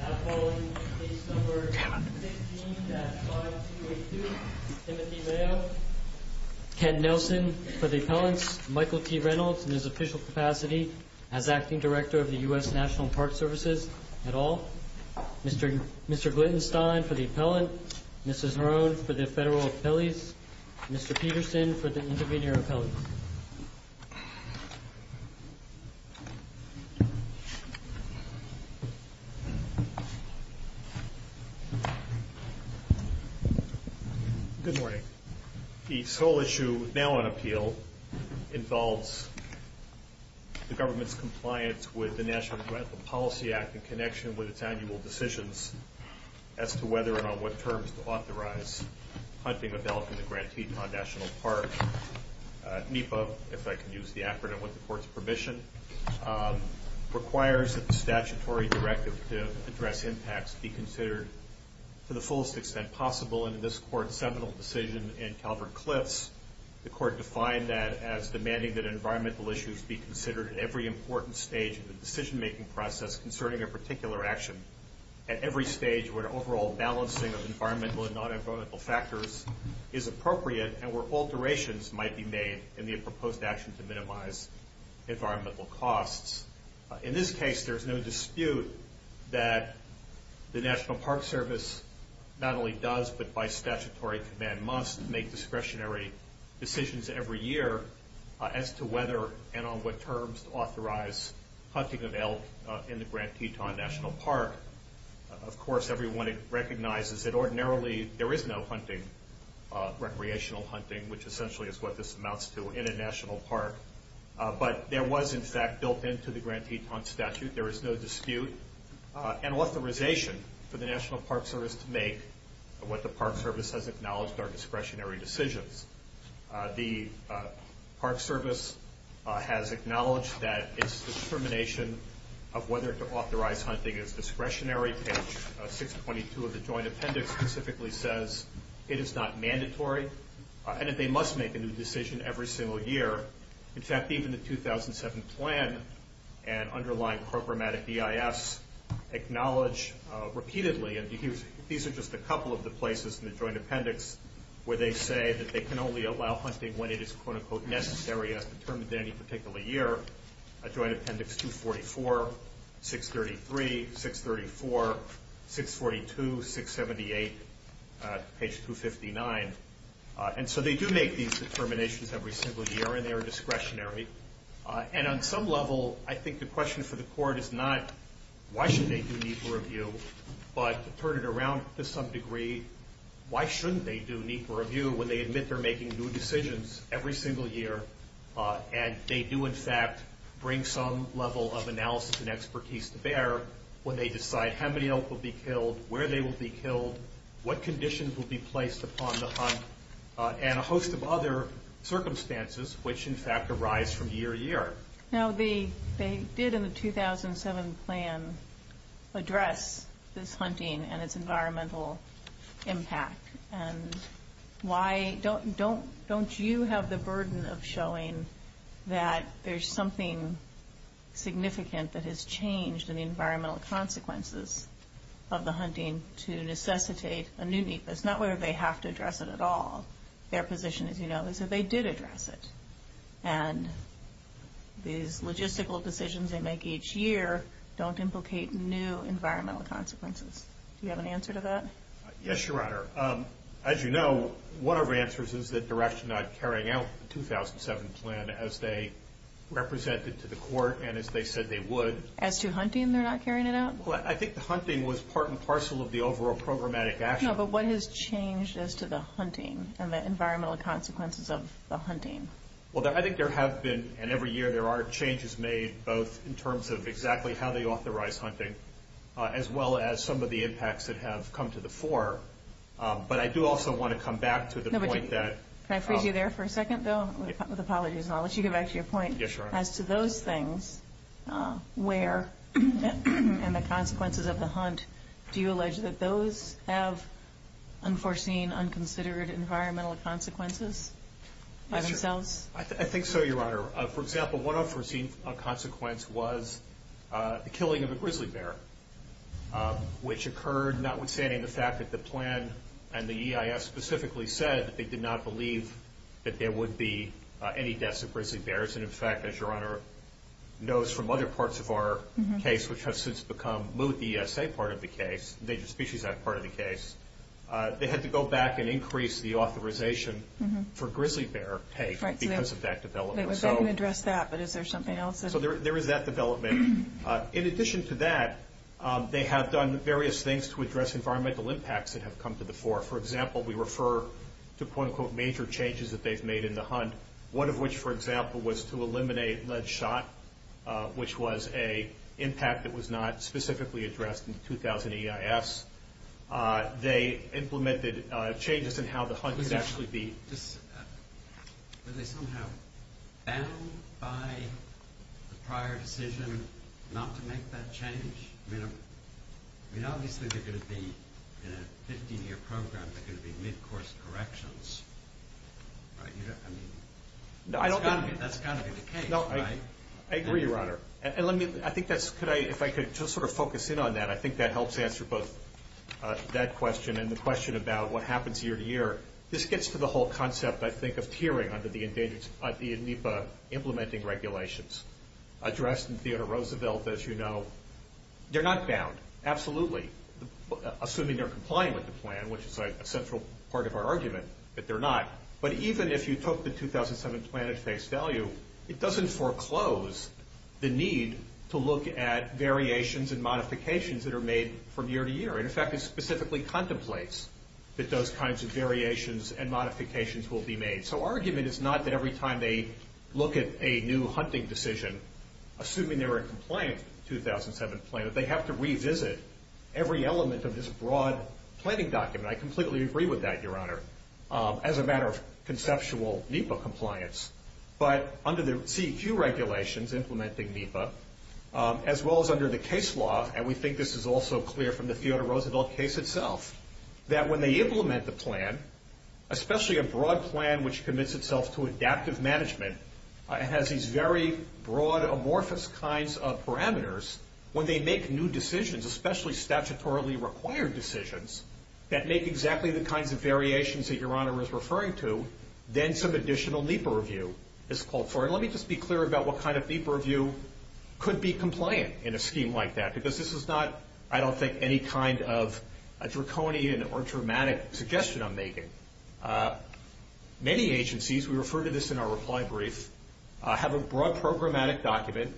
Now calling case number 16-5282, Timothy Mayo Ken Nelson for the appellants, Michael T. Reynolds in his official capacity as Acting Director of the U.S. National Park Services et al. Mr. Glittenstein for the appellant, Mrs. Marone for the federal appellees Mr. Peterson for the intervener appellees Good morning. The sole issue now on appeal involves the government's compliance with the National Environmental Policy Act in connection with its annual decisions as to whether and on what terms to authorize hunting of elk in the Grand Teton National Park. NEPA, if I can use the acronym with the Court's permission, requires that the statutory directive to address impacts be considered to the fullest extent possible. In this Court's seminal decision in Calvert-Cliffs, the Court defined that as demanding that environmental issues be considered at every important stage of the decision-making process concerning a particular action at every stage where an overall balancing of environmental and non-environmental factors is appropriate and where alterations might be made in the proposed action to minimize environmental costs. In this case, there's no dispute that the National Park Service not only does but by statutory command must make discretionary decisions every year as to whether and on what terms to authorize hunting of elk in the Grand Teton National Park. Of course, everyone recognizes that ordinarily there is no hunting, recreational hunting, which essentially is what this amounts to in a national park. But there was, in fact, built into the Grand Teton statute. There is no dispute and authorization for the National Park Service to make what the Park Service has acknowledged are discretionary decisions. The Park Service has acknowledged that its determination of whether to authorize hunting is discretionary. Page 622 of the Joint Appendix specifically says it is not mandatory and that they must make a new decision every single year. In fact, even the 2007 plan and underlying programmatic EIS acknowledge repeatedly, and these are just a couple of the places in the Joint Appendix where they say that they can only allow hunting when it is quote-unquote necessary as determined in any particular year. Joint Appendix 244, 633, 634, 642, 678, page 259. And so they do make these determinations every single year and they are discretionary. And on some level, I think the question for the court is not why should they do NEPA review, but to turn it around to some degree, why shouldn't they do NEPA review when they admit they're making new decisions every single year and they do, in fact, bring some level of analysis and expertise to bear when they decide how many elk will be killed, where they will be killed, what conditions will be placed upon the hunt, and a host of other circumstances which, in fact, arise from year to year. Now, they did in the 2007 plan address this hunting and its environmental impact. And why don't you have the burden of showing that there's something significant that has changed in the environmental consequences of the hunting to necessitate a new NEPA? It's not whether they have to address it at all. Their position, as you know, is that they did address it. And these logistical decisions they make each year don't implicate new environmental consequences. Do you have an answer to that? Yes, Your Honor. As you know, one of our answers is that they're actually not carrying out the 2007 plan as they represented to the court and as they said they would. As to hunting, they're not carrying it out? Well, I think the hunting was part and parcel of the overall programmatic action. No, but what has changed as to the hunting and the environmental consequences of the hunting? Well, I think there have been, and every year there are changes made, both in terms of exactly how they authorize hunting as well as some of the impacts that have come to the fore. But I do also want to come back to the point that- Can I freeze you there for a second, Bill? With apologies, and I'll let you get back to your point. Yes, Your Honor. As to those things, where, and the consequences of the hunt, do you allege that those have unforeseen, unconsidered environmental consequences by themselves? I think so, Your Honor. For example, one unforeseen consequence was the killing of a grizzly bear, which occurred notwithstanding the fact that the plan and the EIS specifically said that they did not believe that there would be any deaths of grizzly bears. And in fact, as Your Honor knows from other parts of our case, which has since become moot ESA part of the case, Endangered Species Act part of the case, they had to go back and increase the authorization for grizzly bear pay because of that development. I can address that, but is there something else? So there is that development. In addition to that, they have done various things to address environmental impacts that have come to the fore. For example, we refer to quote, unquote, major changes that they've made in the hunt, one of which, for example, was to eliminate lead shot, which was an impact that was not specifically addressed in the 2000 EIS. They implemented changes in how the hunt would actually be. Were they somehow bound by the prior decision not to make that change? I mean, obviously they're going to be, in a 15-year program, they're going to be mid-course corrections, right? I mean, that's got to be the case, right? I agree, Your Honor. And let me, I think that's, if I could just sort of focus in on that, and I think that helps answer both that question and the question about what happens year to year. This gets to the whole concept, I think, of tiering under the NEPA implementing regulations. Addressed in Theodore Roosevelt, as you know, they're not bound, absolutely, assuming they're complying with the plan, which is a central part of our argument that they're not. But even if you took the 2007 plan at face value, it doesn't foreclose the need to look at variations and modifications that are made from year to year. In fact, it specifically contemplates that those kinds of variations and modifications will be made. So argument is not that every time they look at a new hunting decision, assuming they're in compliance with the 2007 plan, that they have to revisit every element of this broad planning document. I completely agree with that, Your Honor, as a matter of conceptual NEPA compliance. But under the CEQ regulations implementing NEPA, as well as under the case law, and we think this is also clear from the Theodore Roosevelt case itself, that when they implement the plan, especially a broad plan which commits itself to adaptive management, it has these very broad, amorphous kinds of parameters. When they make new decisions, especially statutorily required decisions, that make exactly the kinds of variations that Your Honor is referring to, then some additional NEPA review is called for. And let me just be clear about what kind of NEPA review could be compliant in a scheme like that, because this is not, I don't think, any kind of a draconian or dramatic suggestion I'm making. Many agencies, we refer to this in our reply brief, have a broad programmatic document,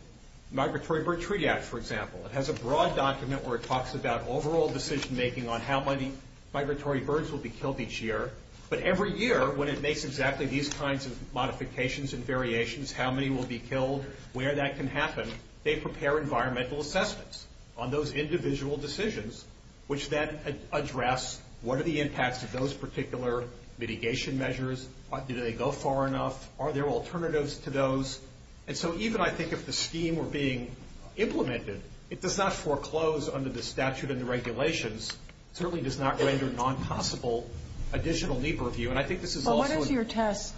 Migratory Bird Treaty Act, for example. It has a broad document where it talks about overall decision making on how many migratory birds will be killed each year. But every year, when it makes exactly these kinds of modifications and variations, how many will be killed, where that can happen, they prepare environmental assessments on those individual decisions, which then address what are the impacts of those particular mitigation measures. Did they go far enough? Are there alternatives to those? And so even, I think, if the scheme were being implemented, it does not foreclose under the statute and the regulations. It certainly does not render non-possible additional NEPA review. And I think this is also a... Well, what is your test?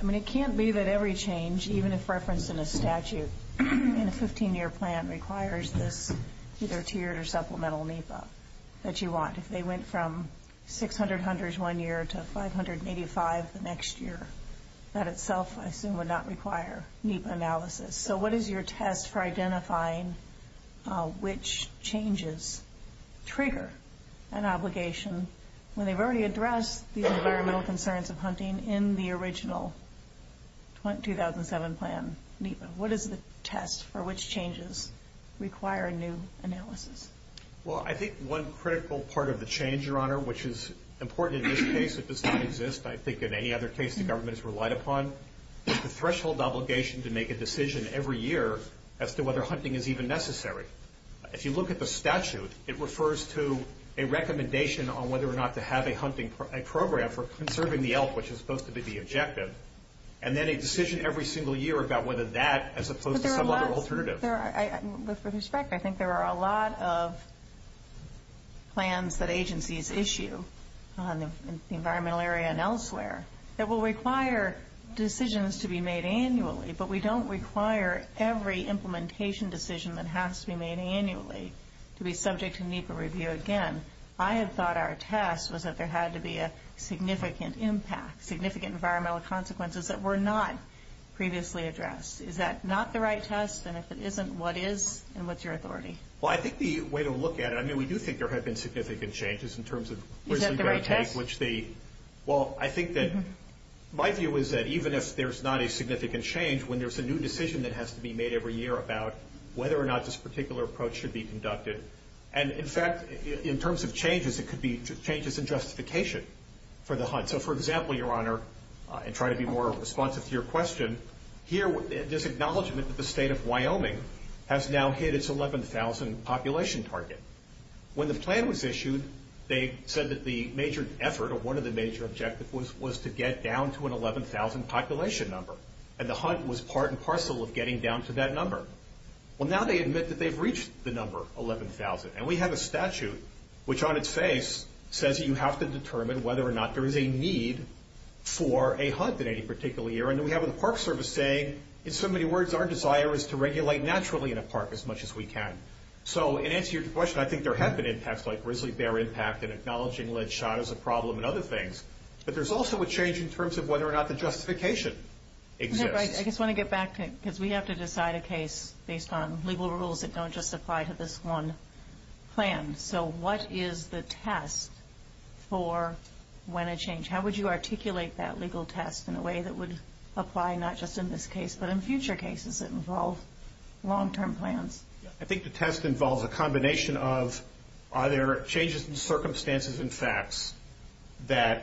I mean, it can't be that every change, even if referenced in a statute in a 15-year plan, requires this either tiered or supplemental NEPA that you want. If they went from 600 hunters one year to 585 the next year, that itself, I assume, would not require NEPA analysis. So what is your test for identifying which changes trigger an obligation when they've already addressed the environmental concerns of hunting in the original 2007 plan NEPA? What is the test for which changes require new analysis? Well, I think one critical part of the change, Your Honor, which is important in this case, it does not exist, I think, in any other case the government has relied upon, with the threshold obligation to make a decision every year as to whether hunting is even necessary. If you look at the statute, it refers to a recommendation on whether or not to have a hunting program for conserving the elk, which is supposed to be the objective, and then a decision every single year about whether that, as opposed to some other alternative. With respect, I think there are a lot of plans that agencies issue in the environmental area and elsewhere that will require decisions to be made annually, but we don't require every implementation decision that has to be made annually to be subject to NEPA review again. I had thought our test was that there had to be a significant impact, significant environmental consequences that were not previously addressed. Is that not the right test, and if it isn't, what is, and what's your authority? Well, I think the way to look at it, I mean, we do think there have been significant changes in terms of Is that the right test? Well, I think that my view is that even if there's not a significant change, when there's a new decision that has to be made every year about whether or not this particular approach should be conducted, and, in fact, in terms of changes, it could be changes in justification for the hunt. So, for example, Your Honor, and try to be more responsive to your question, here this acknowledgment that the state of Wyoming has now hit its 11,000 population target. When the plan was issued, they said that the major effort, or one of the major objectives, was to get down to an 11,000 population number, and the hunt was part and parcel of getting down to that number. Well, now they admit that they've reached the number 11,000, and we have a statute which, on its face, says that you have to determine whether or not there is a need for a hunt in any particular year, and then we have the Park Service saying, in so many words, our desire is to regulate naturally in a park as much as we can. So, in answer to your question, I think there have been impacts like Grizzly Bear Impact and acknowledging lead shot as a problem and other things, but there's also a change in terms of whether or not the justification exists. I just want to get back to it, because we have to decide a case based on legal rules that don't just apply to this one plan. So what is the test for when a change? How would you articulate that legal test in a way that would apply not just in this case, but in future cases that involve long-term plans? I think the test involves a combination of are there changes in circumstances and facts that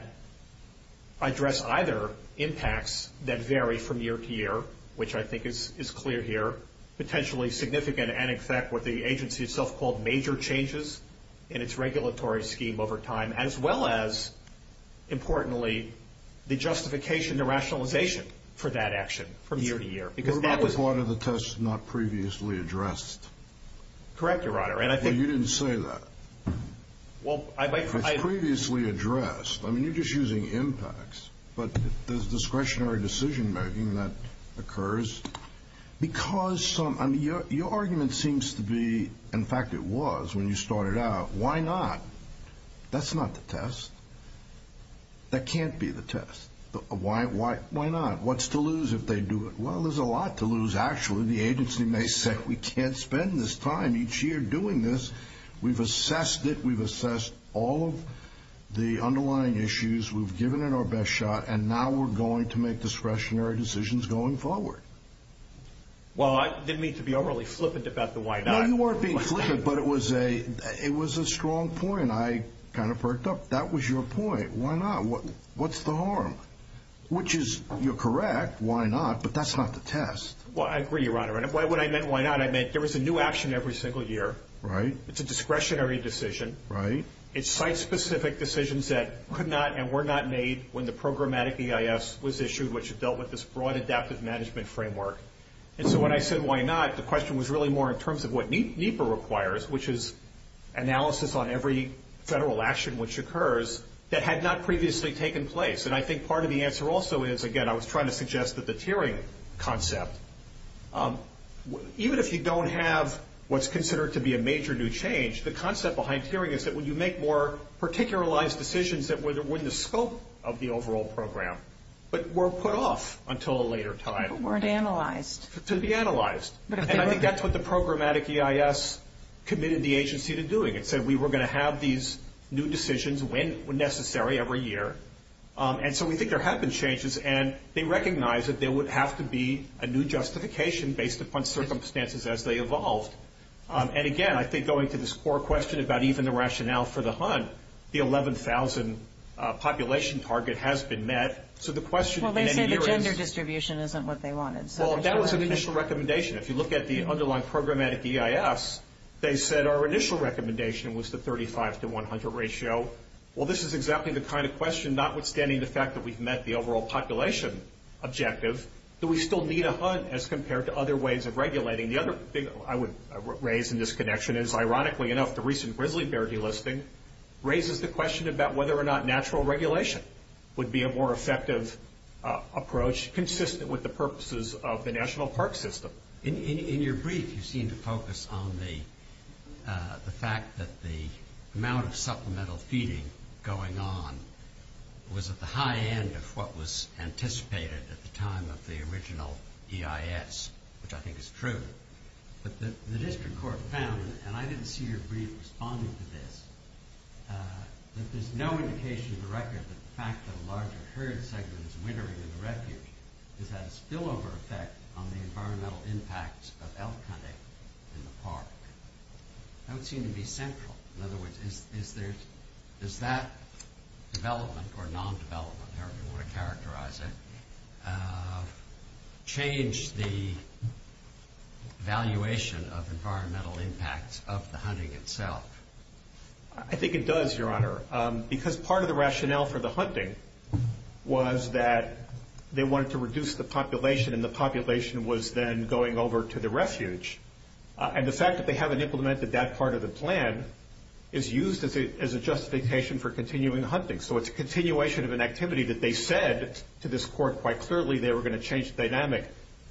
address either impacts that vary from year to year, which I think is clear here, potentially significant and in fact what the agency itself called major changes in its regulatory scheme over time, as well as, importantly, the justification, the rationalization for that action from year to year. What about the part of the test not previously addressed? Correct, Your Honor. You didn't say that. It's previously addressed. I mean, you're just using impacts, but there's discretionary decision-making that occurs. Your argument seems to be, in fact it was when you started out, why not? That's not the test. That can't be the test. Why not? What's to lose if they do it? Well, there's a lot to lose, actually. The agency may say we can't spend this time each year doing this. We've assessed it. We've assessed all of the underlying issues. We've given it our best shot, and now we're going to make discretionary decisions going forward. Well, I didn't mean to be overly flippant about the why not. No, you weren't being flippant, but it was a strong point. I kind of perked up. That was your point. Why not? What's the harm? Which is, you're correct, why not, but that's not the test. Well, I agree, Your Honor. When I meant why not, I meant there was a new action every single year. Right. It's a discretionary decision. Right. It's site-specific decisions that could not and were not made when the programmatic EIS was issued, which dealt with this broad adaptive management framework. And so when I said why not, the question was really more in terms of what NEPA requires, which is analysis on every federal action which occurs that had not previously taken place. And I think part of the answer also is, again, I was trying to suggest that the tiering concept, even if you don't have what's considered to be a major new change, the concept behind tiering is that when you make more particularized decisions that were within the scope of the overall program but were put off until a later time. But weren't analyzed. To be analyzed. And I think that's what the programmatic EIS committed the agency to doing. It said we were going to have these new decisions when necessary every year. And so we think there have been changes, and they recognize that there would have to be a new justification based upon circumstances as they evolved. And, again, I think going to this core question about even the rationale for the hunt, the 11,000 population target has been met. So the question in any year is. Well, they say the gender distribution isn't what they wanted. Well, that was an initial recommendation. If you look at the underlying programmatic EIS, they said our initial recommendation was the 35 to 100 ratio. Well, this is exactly the kind of question, notwithstanding the fact that we've met the overall population objective, that we still need a hunt as compared to other ways of regulating. The other thing I would raise in this connection is, ironically enough, the recent grizzly bear delisting raises the question about whether or not natural regulation would be a more effective approach, consistent with the purposes of the national park system. In your brief, you seem to focus on the fact that the amount of supplemental feeding going on was at the high end of what was anticipated at the time of the original EIS, which I think is true. But the district court found, and I didn't see your brief responding to this, that there's no indication of the record that the fact that a larger herd segment is wintering in the refuge has had a spillover effect on the environmental impact of elk hunting in the park. That would seem to be central. In other words, does that development or non-development, however you want to characterize it, change the valuation of environmental impacts of the hunting itself? I think it does, Your Honor, because part of the rationale for the hunting was that they wanted to reduce the population, and the population was then going over to the refuge. And the fact that they haven't implemented that part of the plan is used as a justification for continuing hunting. So it's a continuation of an activity that they said to this court quite clearly they were going to change the dynamic.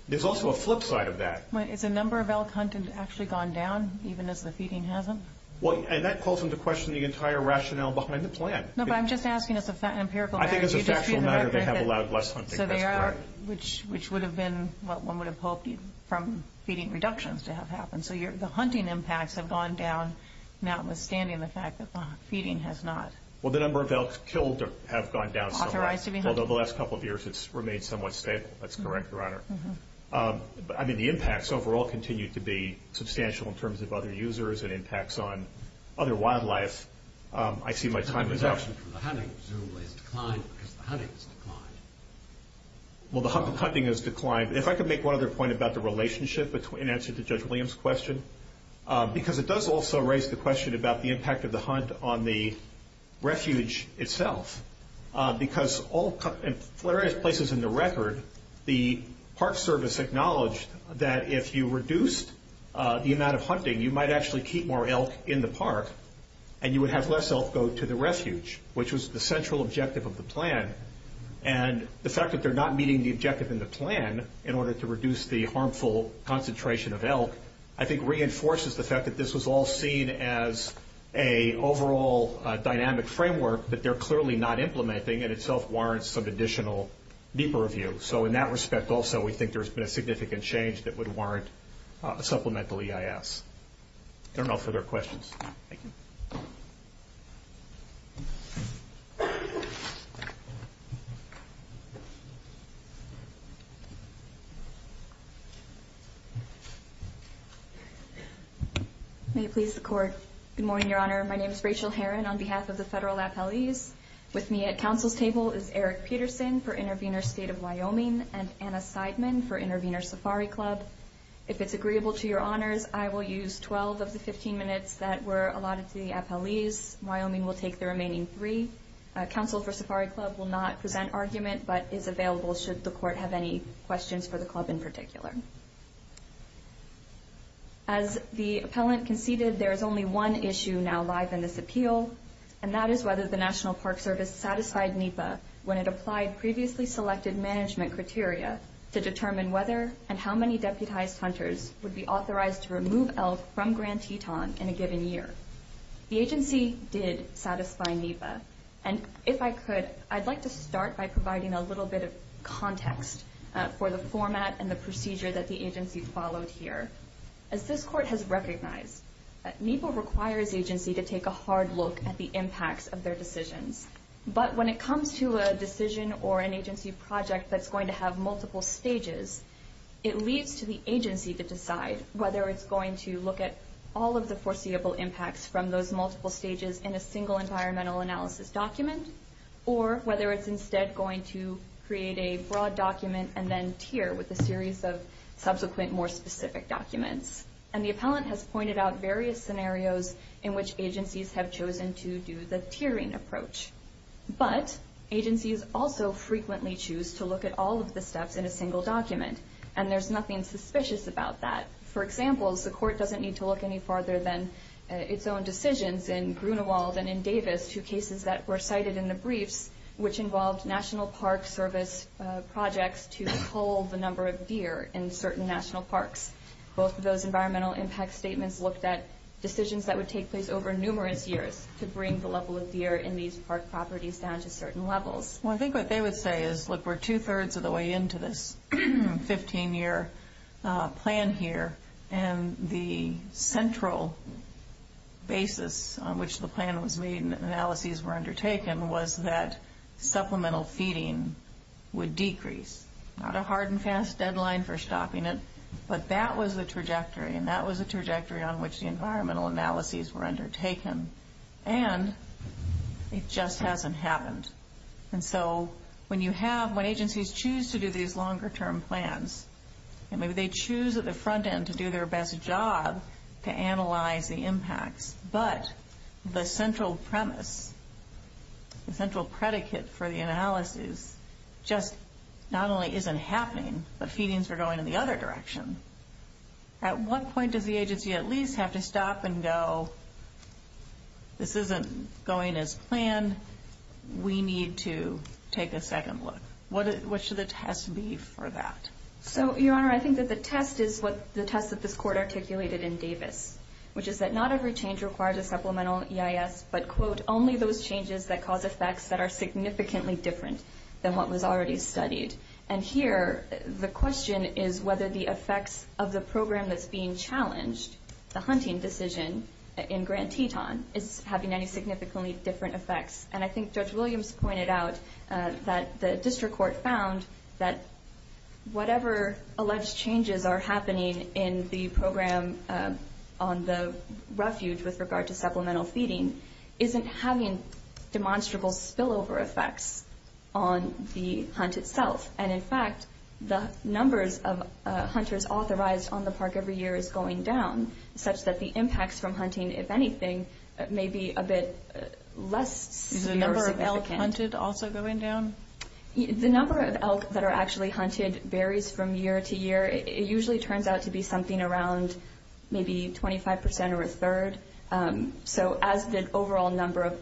There's also a flip side of that. Is the number of elk hunted actually gone down, even as the feeding hasn't? And that calls into question the entire rationale behind the plan. No, but I'm just asking as an empirical matter. I think as a factual matter they have allowed less hunting. That's correct. Which would have been what one would have hoped from feeding reductions to have happened. So the hunting impacts have gone down, notwithstanding the fact that the feeding has not. Well, the number of elk killed have gone down somewhat. Authorized to be hunted. Although the last couple of years it's remained somewhat stable. That's correct, Your Honor. I mean, the impacts overall continue to be substantial in terms of other users and impacts on other wildlife. I see my time is up. The reduction from the hunting presumably has declined because the hunting has declined. Well, the hunting has declined. If I could make one other point about the relationship in answer to Judge Williams' question. Because it does also raise the question about the impact of the hunt on the refuge itself. Because in various places in the record, the Park Service acknowledged that if you reduced the amount of hunting, you might actually keep more elk in the park and you would have less elk go to the refuge, which was the central objective of the plan. And the fact that they're not meeting the objective in the plan in order to reduce the harmful concentration of elk, I think reinforces the fact that this was all seen as an overall dynamic framework that they're clearly not implementing and itself warrants some additional deeper review. So in that respect also we think there's been a significant change that would warrant a supplemental EIS. If there are no further questions. Thank you. Good morning, Your Honor. My name is Rachel Heron on behalf of the federal appellees. With me at counsel's table is Eric Peterson for Intervenor State of Wyoming and Anna Seidman for Intervenor Safari Club. If it's agreeable to your honors, I will use 12 of the 15 minutes that were allotted to the appellees. Wyoming will take the remaining three. Counsel for Safari Club will not present argument but is available should the court have any questions for the club in particular. As the appellant conceded, there is only one issue now live in this appeal, and that is whether the National Park Service satisfied NEPA when it applied previously selected management criteria to determine whether and how many deputized hunters would be authorized to remove elk from Grand Teton in a given year. The agency did satisfy NEPA. And if I could, I'd like to start by providing a little bit of context for the format and the procedure that the agency followed here. As this court has recognized, NEPA requires agency to take a hard look at the impacts of their decisions. But when it comes to a decision or an agency project that's going to have multiple stages, it leaves to the agency to decide whether it's going to look at all of the foreseeable impacts from those multiple stages in a single environmental analysis document or whether it's instead going to create a broad document and then tier with a series of subsequent more specific documents. And the appellant has pointed out various scenarios in which agencies have chosen to do the tiering approach. But agencies also frequently choose to look at all of the steps in a single document, and there's nothing suspicious about that. For example, the court doesn't need to look any farther than its own decisions in Grunewald and in Davis to cases that were cited in the briefs, which involved National Park Service projects to pull the number of deer in certain national parks. Both of those environmental impact statements looked at decisions that would take place over numerous years to bring the level of deer in these park properties down to certain levels. Well, I think what they would say is, look, we're two-thirds of the way into this 15-year plan here, and the central basis on which the plan was made and the analyses were undertaken was that supplemental feeding would decrease. Not a hard and fast deadline for stopping it, but that was the trajectory, and that was the trajectory on which the environmental analyses were undertaken. And it just hasn't happened. And so when agencies choose to do these longer-term plans, and maybe they choose at the front end to do their best job to analyze the impacts, but the central premise, the central predicate for the analyses just not only isn't happening, but feedings are going in the other direction, at what point does the agency at least have to stop and go, this isn't going as planned, we need to take a second look? What should the test be for that? Your Honor, I think that the test is the test that this Court articulated in Davis, which is that not every change requires a supplemental EIS, but, quote, only those changes that cause effects that are significantly different than what was already studied. And here the question is whether the effects of the program that's being challenged, the hunting decision in Grand Teton, is having any significantly different effects. And I think Judge Williams pointed out that the district court found that whatever alleged changes are happening in the program on the refuge with regard to supplemental feeding isn't having demonstrable spillover effects on the hunt itself. And, in fact, the numbers of hunters authorized on the park every year is going down, such that the impacts from hunting, if anything, may be a bit less severe or significant. Is the number of elk hunted also going down? The number of elk that are actually hunted varies from year to year. It usually turns out to be something around maybe 25% or a third. So as the overall number of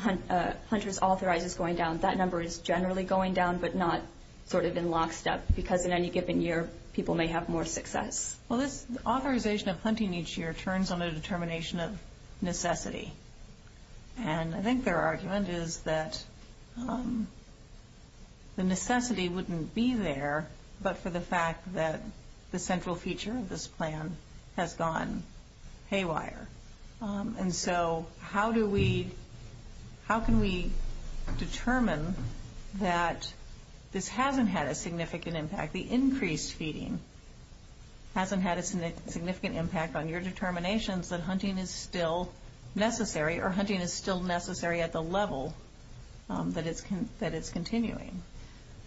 hunters authorized is going down, that number is generally going down but not sort of in lockstep because in any given year people may have more success. Well, this authorization of hunting each year turns on a determination of necessity. And I think their argument is that the necessity wouldn't be there but for the fact that the central feature of this plan has gone haywire. And so how can we determine that this hasn't had a significant impact, the increased feeding hasn't had a significant impact on your determinations that hunting is still necessary or hunting is still necessary at the level that it's continuing?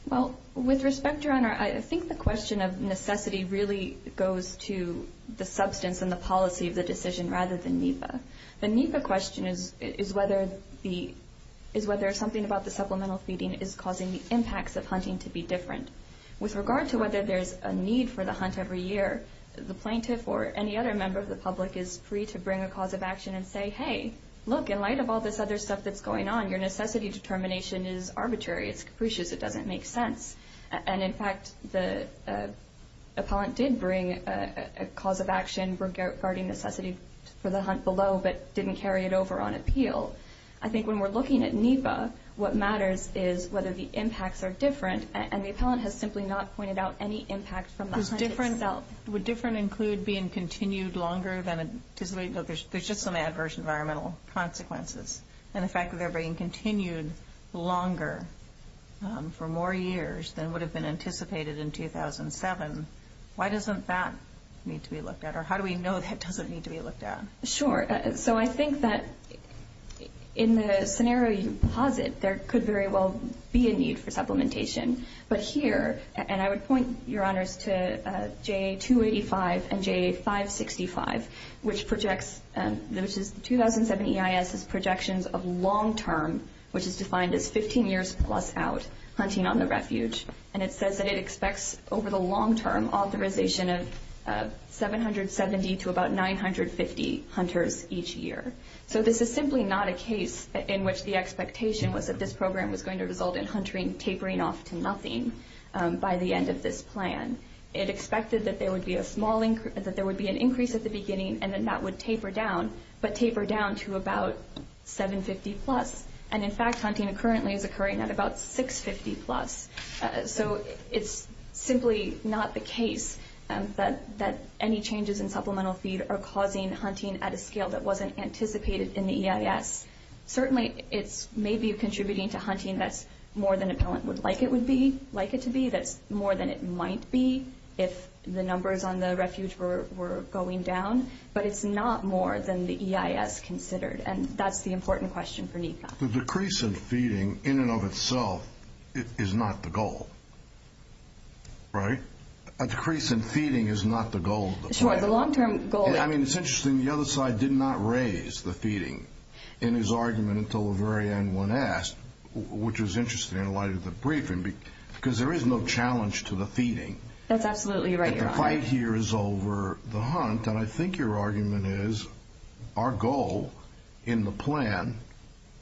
Well, with respect, Your Honor, I think the question of necessity really goes to the substance and the policy of the decision rather than NEPA. The NEPA question is whether something about the supplemental feeding is causing the impacts of hunting to be different. With regard to whether there's a need for the hunt every year, the plaintiff or any other member of the public is free to bring a cause of action and say, hey, look, in light of all this other stuff that's going on, your necessity determination is arbitrary, it's capricious, it doesn't make sense. And, in fact, the appellant did bring a cause of action regarding necessity for the hunt below but didn't carry it over on appeal. I think when we're looking at NEPA, what matters is whether the impacts are different. And the appellant has simply not pointed out any impact from the hunt itself. Would different include being continued longer than anticipated? No, there's just some adverse environmental consequences. And the fact that they're being continued longer for more years than would have been anticipated in 2007, why doesn't that need to be looked at? Or how do we know that doesn't need to be looked at? Sure. So I think that in the scenario you posit, there could very well be a need for supplementation. But here, and I would point, Your Honors, to JA-285 and JA-565, which is the 2007 EIS's projections of long-term, which is defined as 15 years plus out, hunting on the refuge. And it says that it expects over the long-term authorization of 770 to about 950 hunters each year. So this is simply not a case in which the expectation was that this program was going to result in hunting tapering off to nothing by the end of this plan. It expected that there would be an increase at the beginning, and then that would taper down, but taper down to about 750 plus. And in fact, hunting currently is occurring at about 650 plus. So it's simply not the case that any changes in supplemental feed are causing hunting at a scale that wasn't anticipated in the EIS. Certainly, it's maybe contributing to hunting that's more than a pellant would like it to be, that's more than it might be if the numbers on the refuge were going down, but it's not more than the EIS considered. And that's the important question for NEPA. The decrease in feeding in and of itself is not the goal, right? A decrease in feeding is not the goal of the plan. Sure, the long-term goal... I mean, it's interesting the other side did not raise the feeding in his argument until the very end when asked, which was interesting in light of the briefing, because there is no challenge to the feeding. That's absolutely right, Your Honor. If the fight here is over the hunt, then I think your argument is our goal in the plan,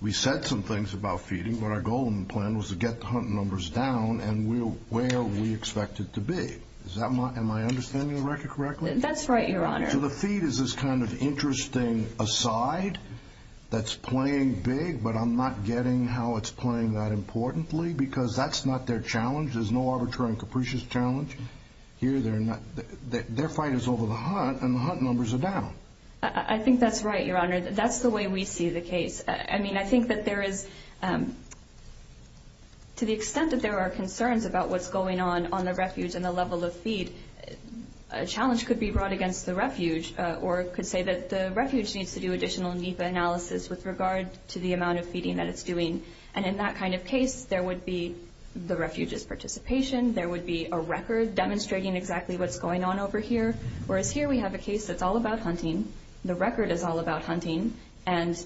we said some things about feeding, but our goal in the plan was to get the hunting numbers down and where we expect it to be. Am I understanding the record correctly? That's right, Your Honor. So the feed is this kind of interesting aside that's playing big, but I'm not getting how it's playing that importantly because that's not their challenge. There's no arbitrary and capricious challenge here. Their fight is over the hunt, and the hunt numbers are down. I think that's right, Your Honor. That's the way we see the case. I mean, I think that there is, to the extent that there are concerns about what's going on on the refuge and the level of feed, a challenge could be brought against the refuge or could say that the refuge needs to do additional NEPA analysis with regard to the amount of feeding that it's doing. And in that kind of case, there would be the refuge's participation, there would be a record demonstrating exactly what's going on over here, whereas here we have a case that's all about hunting, the record is all about hunting, and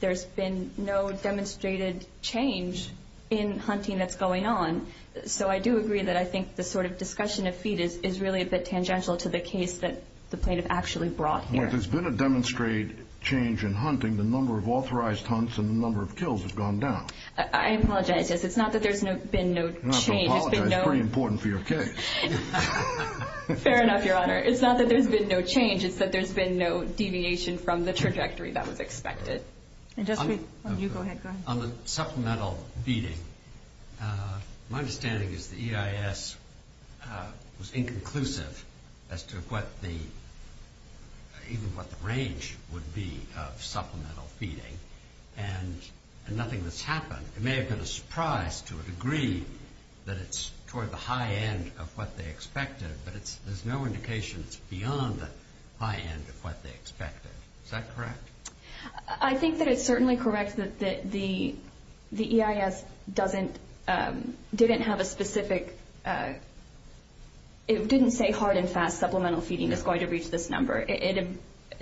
there's been no demonstrated change in hunting that's going on. So I do agree that I think the sort of discussion of feed is really a bit tangential to the case that the plaintiff actually brought here. If there's been a demonstrated change in hunting, the number of authorized hunts and the number of kills has gone down. I apologize. It's not that there's been no change. You don't have to apologize. It's pretty important for your case. Fair enough, Your Honor. It's not that there's been no change. It's that there's been no deviation from the trajectory that was expected. On the supplemental feeding, my understanding is the EIS was inconclusive as to what the range would be of supplemental feeding, and nothing has happened. It may have been a surprise to a degree that it's toward the high end of what they expected, but there's no indication it's beyond the high end of what they expected. Is that correct? I think that it's certainly correct that the EIS didn't say hard and fast supplemental feeding is going to reach this number. It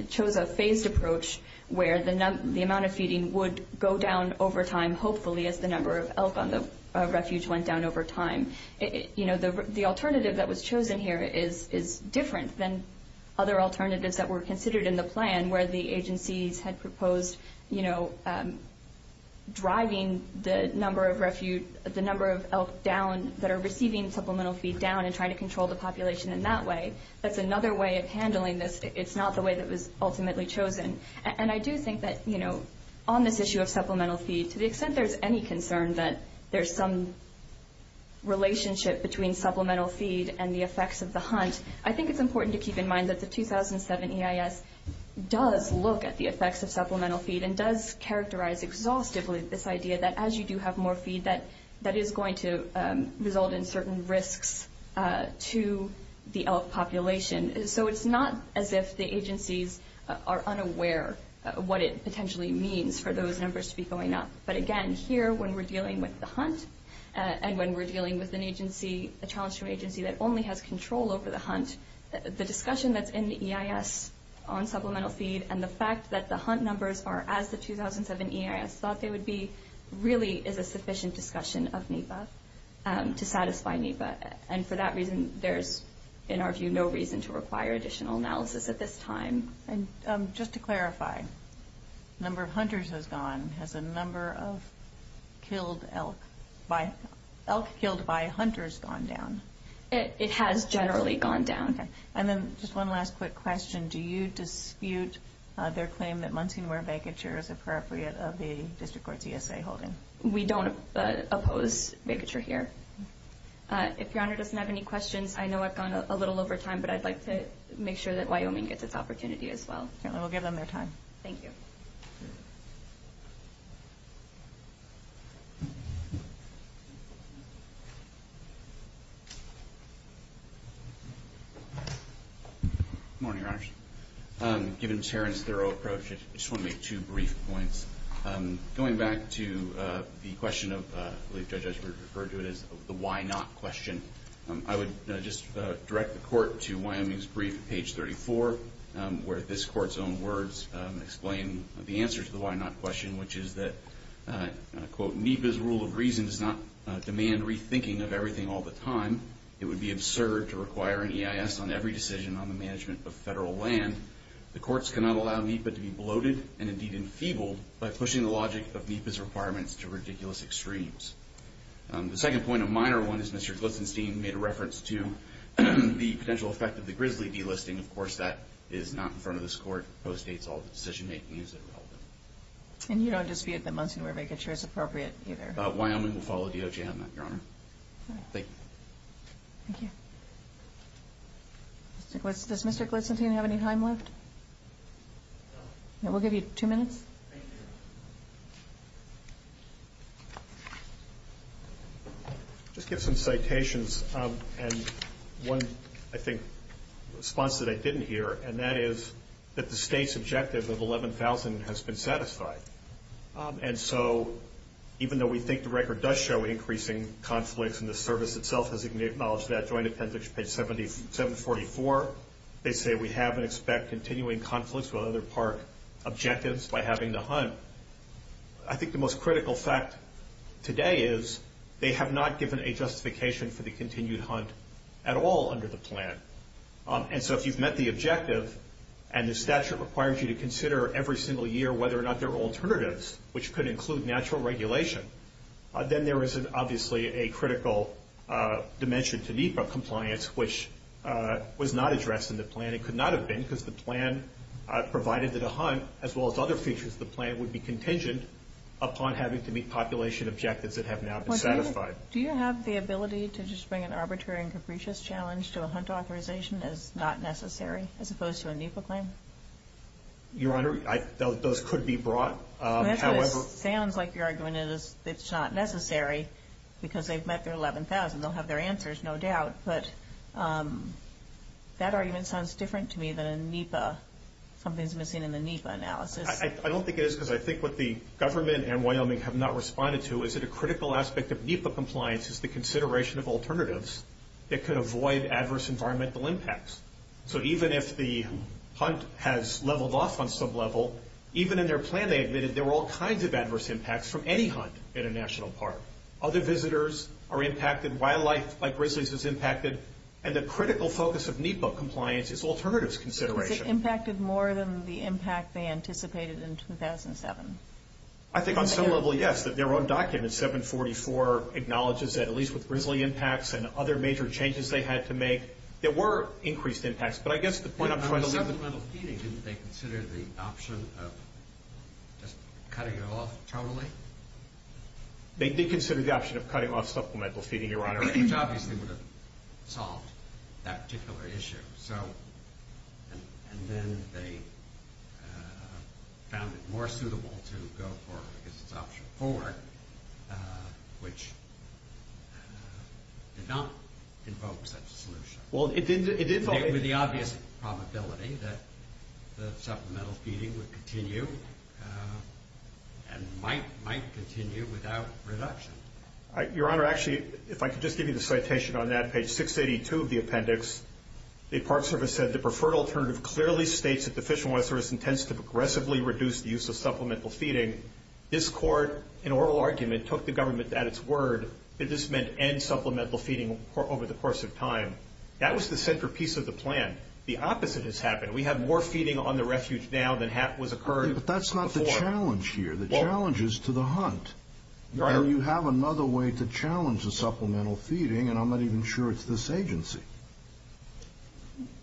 chose a phased approach where the amount of feeding would go down over time, hopefully as the number of elk on the refuge went down over time. The alternative that was chosen here is different than other alternatives that were considered in the plan where the agencies had proposed driving the number of elk that are receiving supplemental feed down and trying to control the population in that way. That's another way of handling this. It's not the way that was ultimately chosen. And I do think that on this issue of supplemental feed, to the extent there's any concern that there's some relationship between supplemental feed and the effects of the hunt, I think it's important to keep in mind that the 2007 EIS does look at the effects of supplemental feed and does characterize exhaustively this idea that as you do have more feed, that is going to result in certain risks to the elk population. So it's not as if the agencies are unaware of what it potentially means for those numbers to be going up. But, again, here when we're dealing with the hunt and when we're dealing with an agency, a challenge to an agency that only has control over the hunt, the discussion that's in the EIS on supplemental feed and the fact that the hunt numbers are as the 2007 EIS thought they would be, really is a sufficient discussion of NEPA to satisfy NEPA. And for that reason, there's, in our view, no reason to require additional analysis at this time. And just to clarify, the number of hunters has gone. Has the number of elk killed by hunters gone down? It has generally gone down. Okay. And then just one last quick question. Do you dispute their claim that muntin ware vacature is appropriate of the district court's ESA holding? We don't oppose vacature here. If Your Honor doesn't have any questions, I know I've gone a little over time, but I'd like to make sure that Wyoming gets its opportunity as well. Okay. We'll give them their time. Thank you. Good morning, Your Honors. Given Sharon's thorough approach, I just want to make two brief points. Going back to the question of, I believe Judge Esper referred to it as the why not question, I would just direct the court to Wyoming's brief at page 34, where this court's own words explain the answer to the why not question, which is that, quote, NEPA's rule of reason does not demand rethinking of everything all the time. It would be absurd to require an EIS on every decision on the management of federal land. The courts cannot allow NEPA to be bloated and, indeed, enfeebled by pushing the logic of NEPA's requirements to ridiculous extremes. The second point, a minor one, is Mr. Glitzenstein made a reference to the potential effect of the Grizzly delisting. Of course, that is not in front of this court. It postdates all of the decision-making that is relevant. And you don't dispute the Munson-Weber vicature is appropriate either. Wyoming will follow DOJ on that, Your Honor. Thank you. Thank you. Does Mr. Glitzenstein have any time left? No. We'll give you two minutes. Thank you. Just get some citations and one, I think, response that I didn't hear, and that is that the state's objective of $11,000 has been satisfied. And so even though we think the record does show increasing conflicts and the service itself has acknowledged that, according to appendix page 744, they say we have and expect continuing conflicts with other park objectives by having the hunt. I think the most critical fact today is they have not given a justification for the continued hunt at all under the plan. And so if you've met the objective and the statute requires you to consider every single year whether or not there are alternatives, which could include natural regulation, then there is obviously a critical dimension to NEPA compliance, which was not addressed in the plan. It could not have been because the plan provided that a hunt, as well as other features of the plan, would be contingent upon having to meet population objectives that have now been satisfied. Do you have the ability to just bring an arbitrary and capricious challenge to a hunt authorization as not necessary as opposed to a NEPA claim? Your Honor, those could be brought. It sounds like your argument is it's not necessary because they've met their 11,000. They'll have their answers, no doubt. But that argument sounds different to me than in NEPA. Something's missing in the NEPA analysis. I don't think it is because I think what the government and Wyoming have not responded to is that a critical aspect of NEPA compliance is the consideration of alternatives that could avoid adverse environmental impacts. So even if the hunt has leveled off on some level, even in their plan they admitted there were all kinds of adverse impacts from any hunt at a national park. Other visitors are impacted, wildlife like grizzlies is impacted, and the critical focus of NEPA compliance is alternatives consideration. Is it impacted more than the impact they anticipated in 2007? I think on some level, yes, that their own document, 744, acknowledges that at least with grizzly impacts and other major changes they had to make, there were increased impacts. On supplemental feeding, didn't they consider the option of just cutting it off totally? They did consider the option of cutting off supplemental feeding, Your Honor. Which obviously would have solved that particular issue. And then they found it more suitable to go forward because it's option four, which did not invoke such a solution. With the obvious probability that the supplemental feeding would continue and might continue without reduction. Your Honor, actually, if I could just give you the citation on that, page 682 of the appendix, the Park Service said, the preferred alternative clearly states that the Fish and Wildlife Service intends to progressively reduce the use of supplemental feeding. This court, in oral argument, took the government at its word that this meant end supplemental feeding over the course of time. That was the centerpiece of the plan. The opposite has happened. We have more feeding on the refuge now than was occurred before. But that's not the challenge here. The challenge is to the hunt. You have another way to challenge the supplemental feeding, and I'm not even sure it's this agency.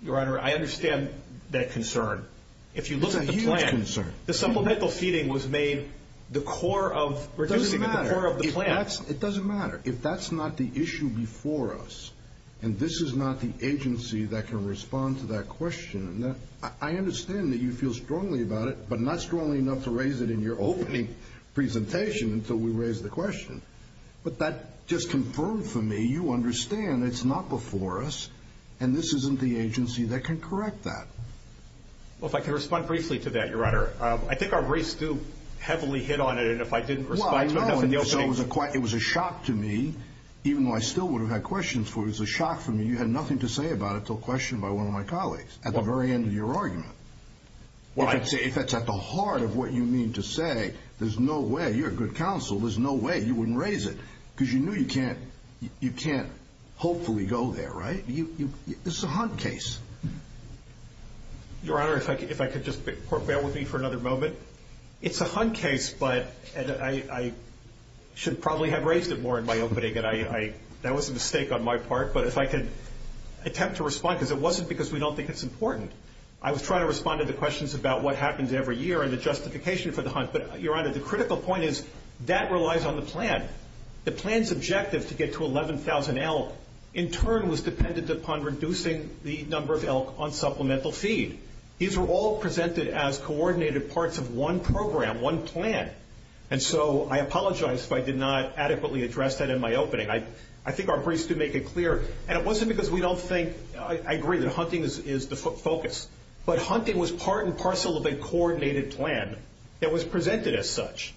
Your Honor, I understand that concern. It's a huge concern. The supplemental feeding was made the core of the plan. It doesn't matter. If that's not the issue before us, and this is not the agency that can respond to that question, I understand that you feel strongly about it, but not strongly enough to raise it in your opening presentation until we raise the question. But that just confirmed for me you understand it's not before us, and this isn't the agency that can correct that. Well, if I could respond briefly to that, Your Honor. I think our race do heavily hit on it. I mean, if I didn't respond to it enough in the opening. It was a shock to me, even though I still would have had questions for it. It was a shock for me. You had nothing to say about it until questioned by one of my colleagues at the very end of your argument. If that's at the heart of what you mean to say, there's no way. You're a good counsel. There's no way you wouldn't raise it because you knew you can't hopefully go there, right? This is a hunt case. Your Honor, if I could just bear with me for another moment. It's a hunt case, but I should probably have raised it more in my opening. That was a mistake on my part. But if I could attempt to respond, because it wasn't because we don't think it's important. I was trying to respond to the questions about what happens every year and the justification for the hunt. But, Your Honor, the critical point is that relies on the plan. The plan's objective to get to 11,000 elk in turn was dependent upon reducing the number of elk on supplemental feed. These were all presented as coordinated parts of one program, one plan. And so I apologize if I did not adequately address that in my opening. I think our briefs do make it clear. And it wasn't because we don't think. I agree that hunting is the focus. But hunting was part and parcel of a coordinated plan that was presented as such.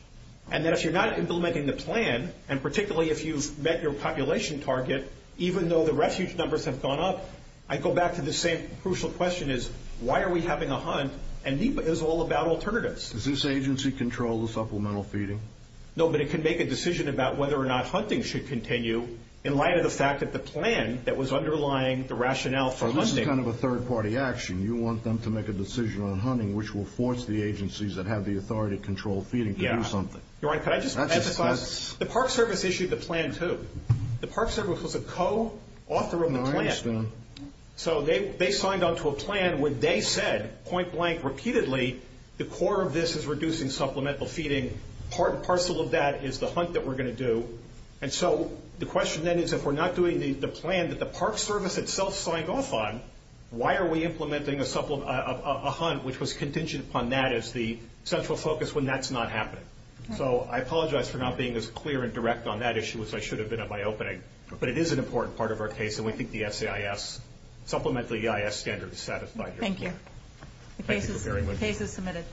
And that if you're not implementing the plan, and particularly if you've met your population target, even though the refuge numbers have gone up, I go back to the same crucial question is why are we having a hunt? And NEPA is all about alternatives. Does this agency control the supplemental feeding? No, but it can make a decision about whether or not hunting should continue in light of the fact that the plan that was underlying the rationale for hunting. So this is kind of a third-party action. You want them to make a decision on hunting, which will force the agencies that have the authority to control feeding to do something. Your Honor, could I just emphasize? The Park Service issued the plan, too. The Park Service was a co-author of the plan. So they signed on to a plan where they said, point blank, repeatedly, the core of this is reducing supplemental feeding. Part and parcel of that is the hunt that we're going to do. And so the question then is if we're not doing the plan that the Park Service itself signed off on, why are we implementing a hunt which was contingent upon that as the central focus when that's not happening? So I apologize for not being as clear and direct on that issue as I should have been at my opening. But it is an important part of our case, and we think the supplement to the EIS standard is satisfied here. Thank you. Thank you very much. The case is submitted.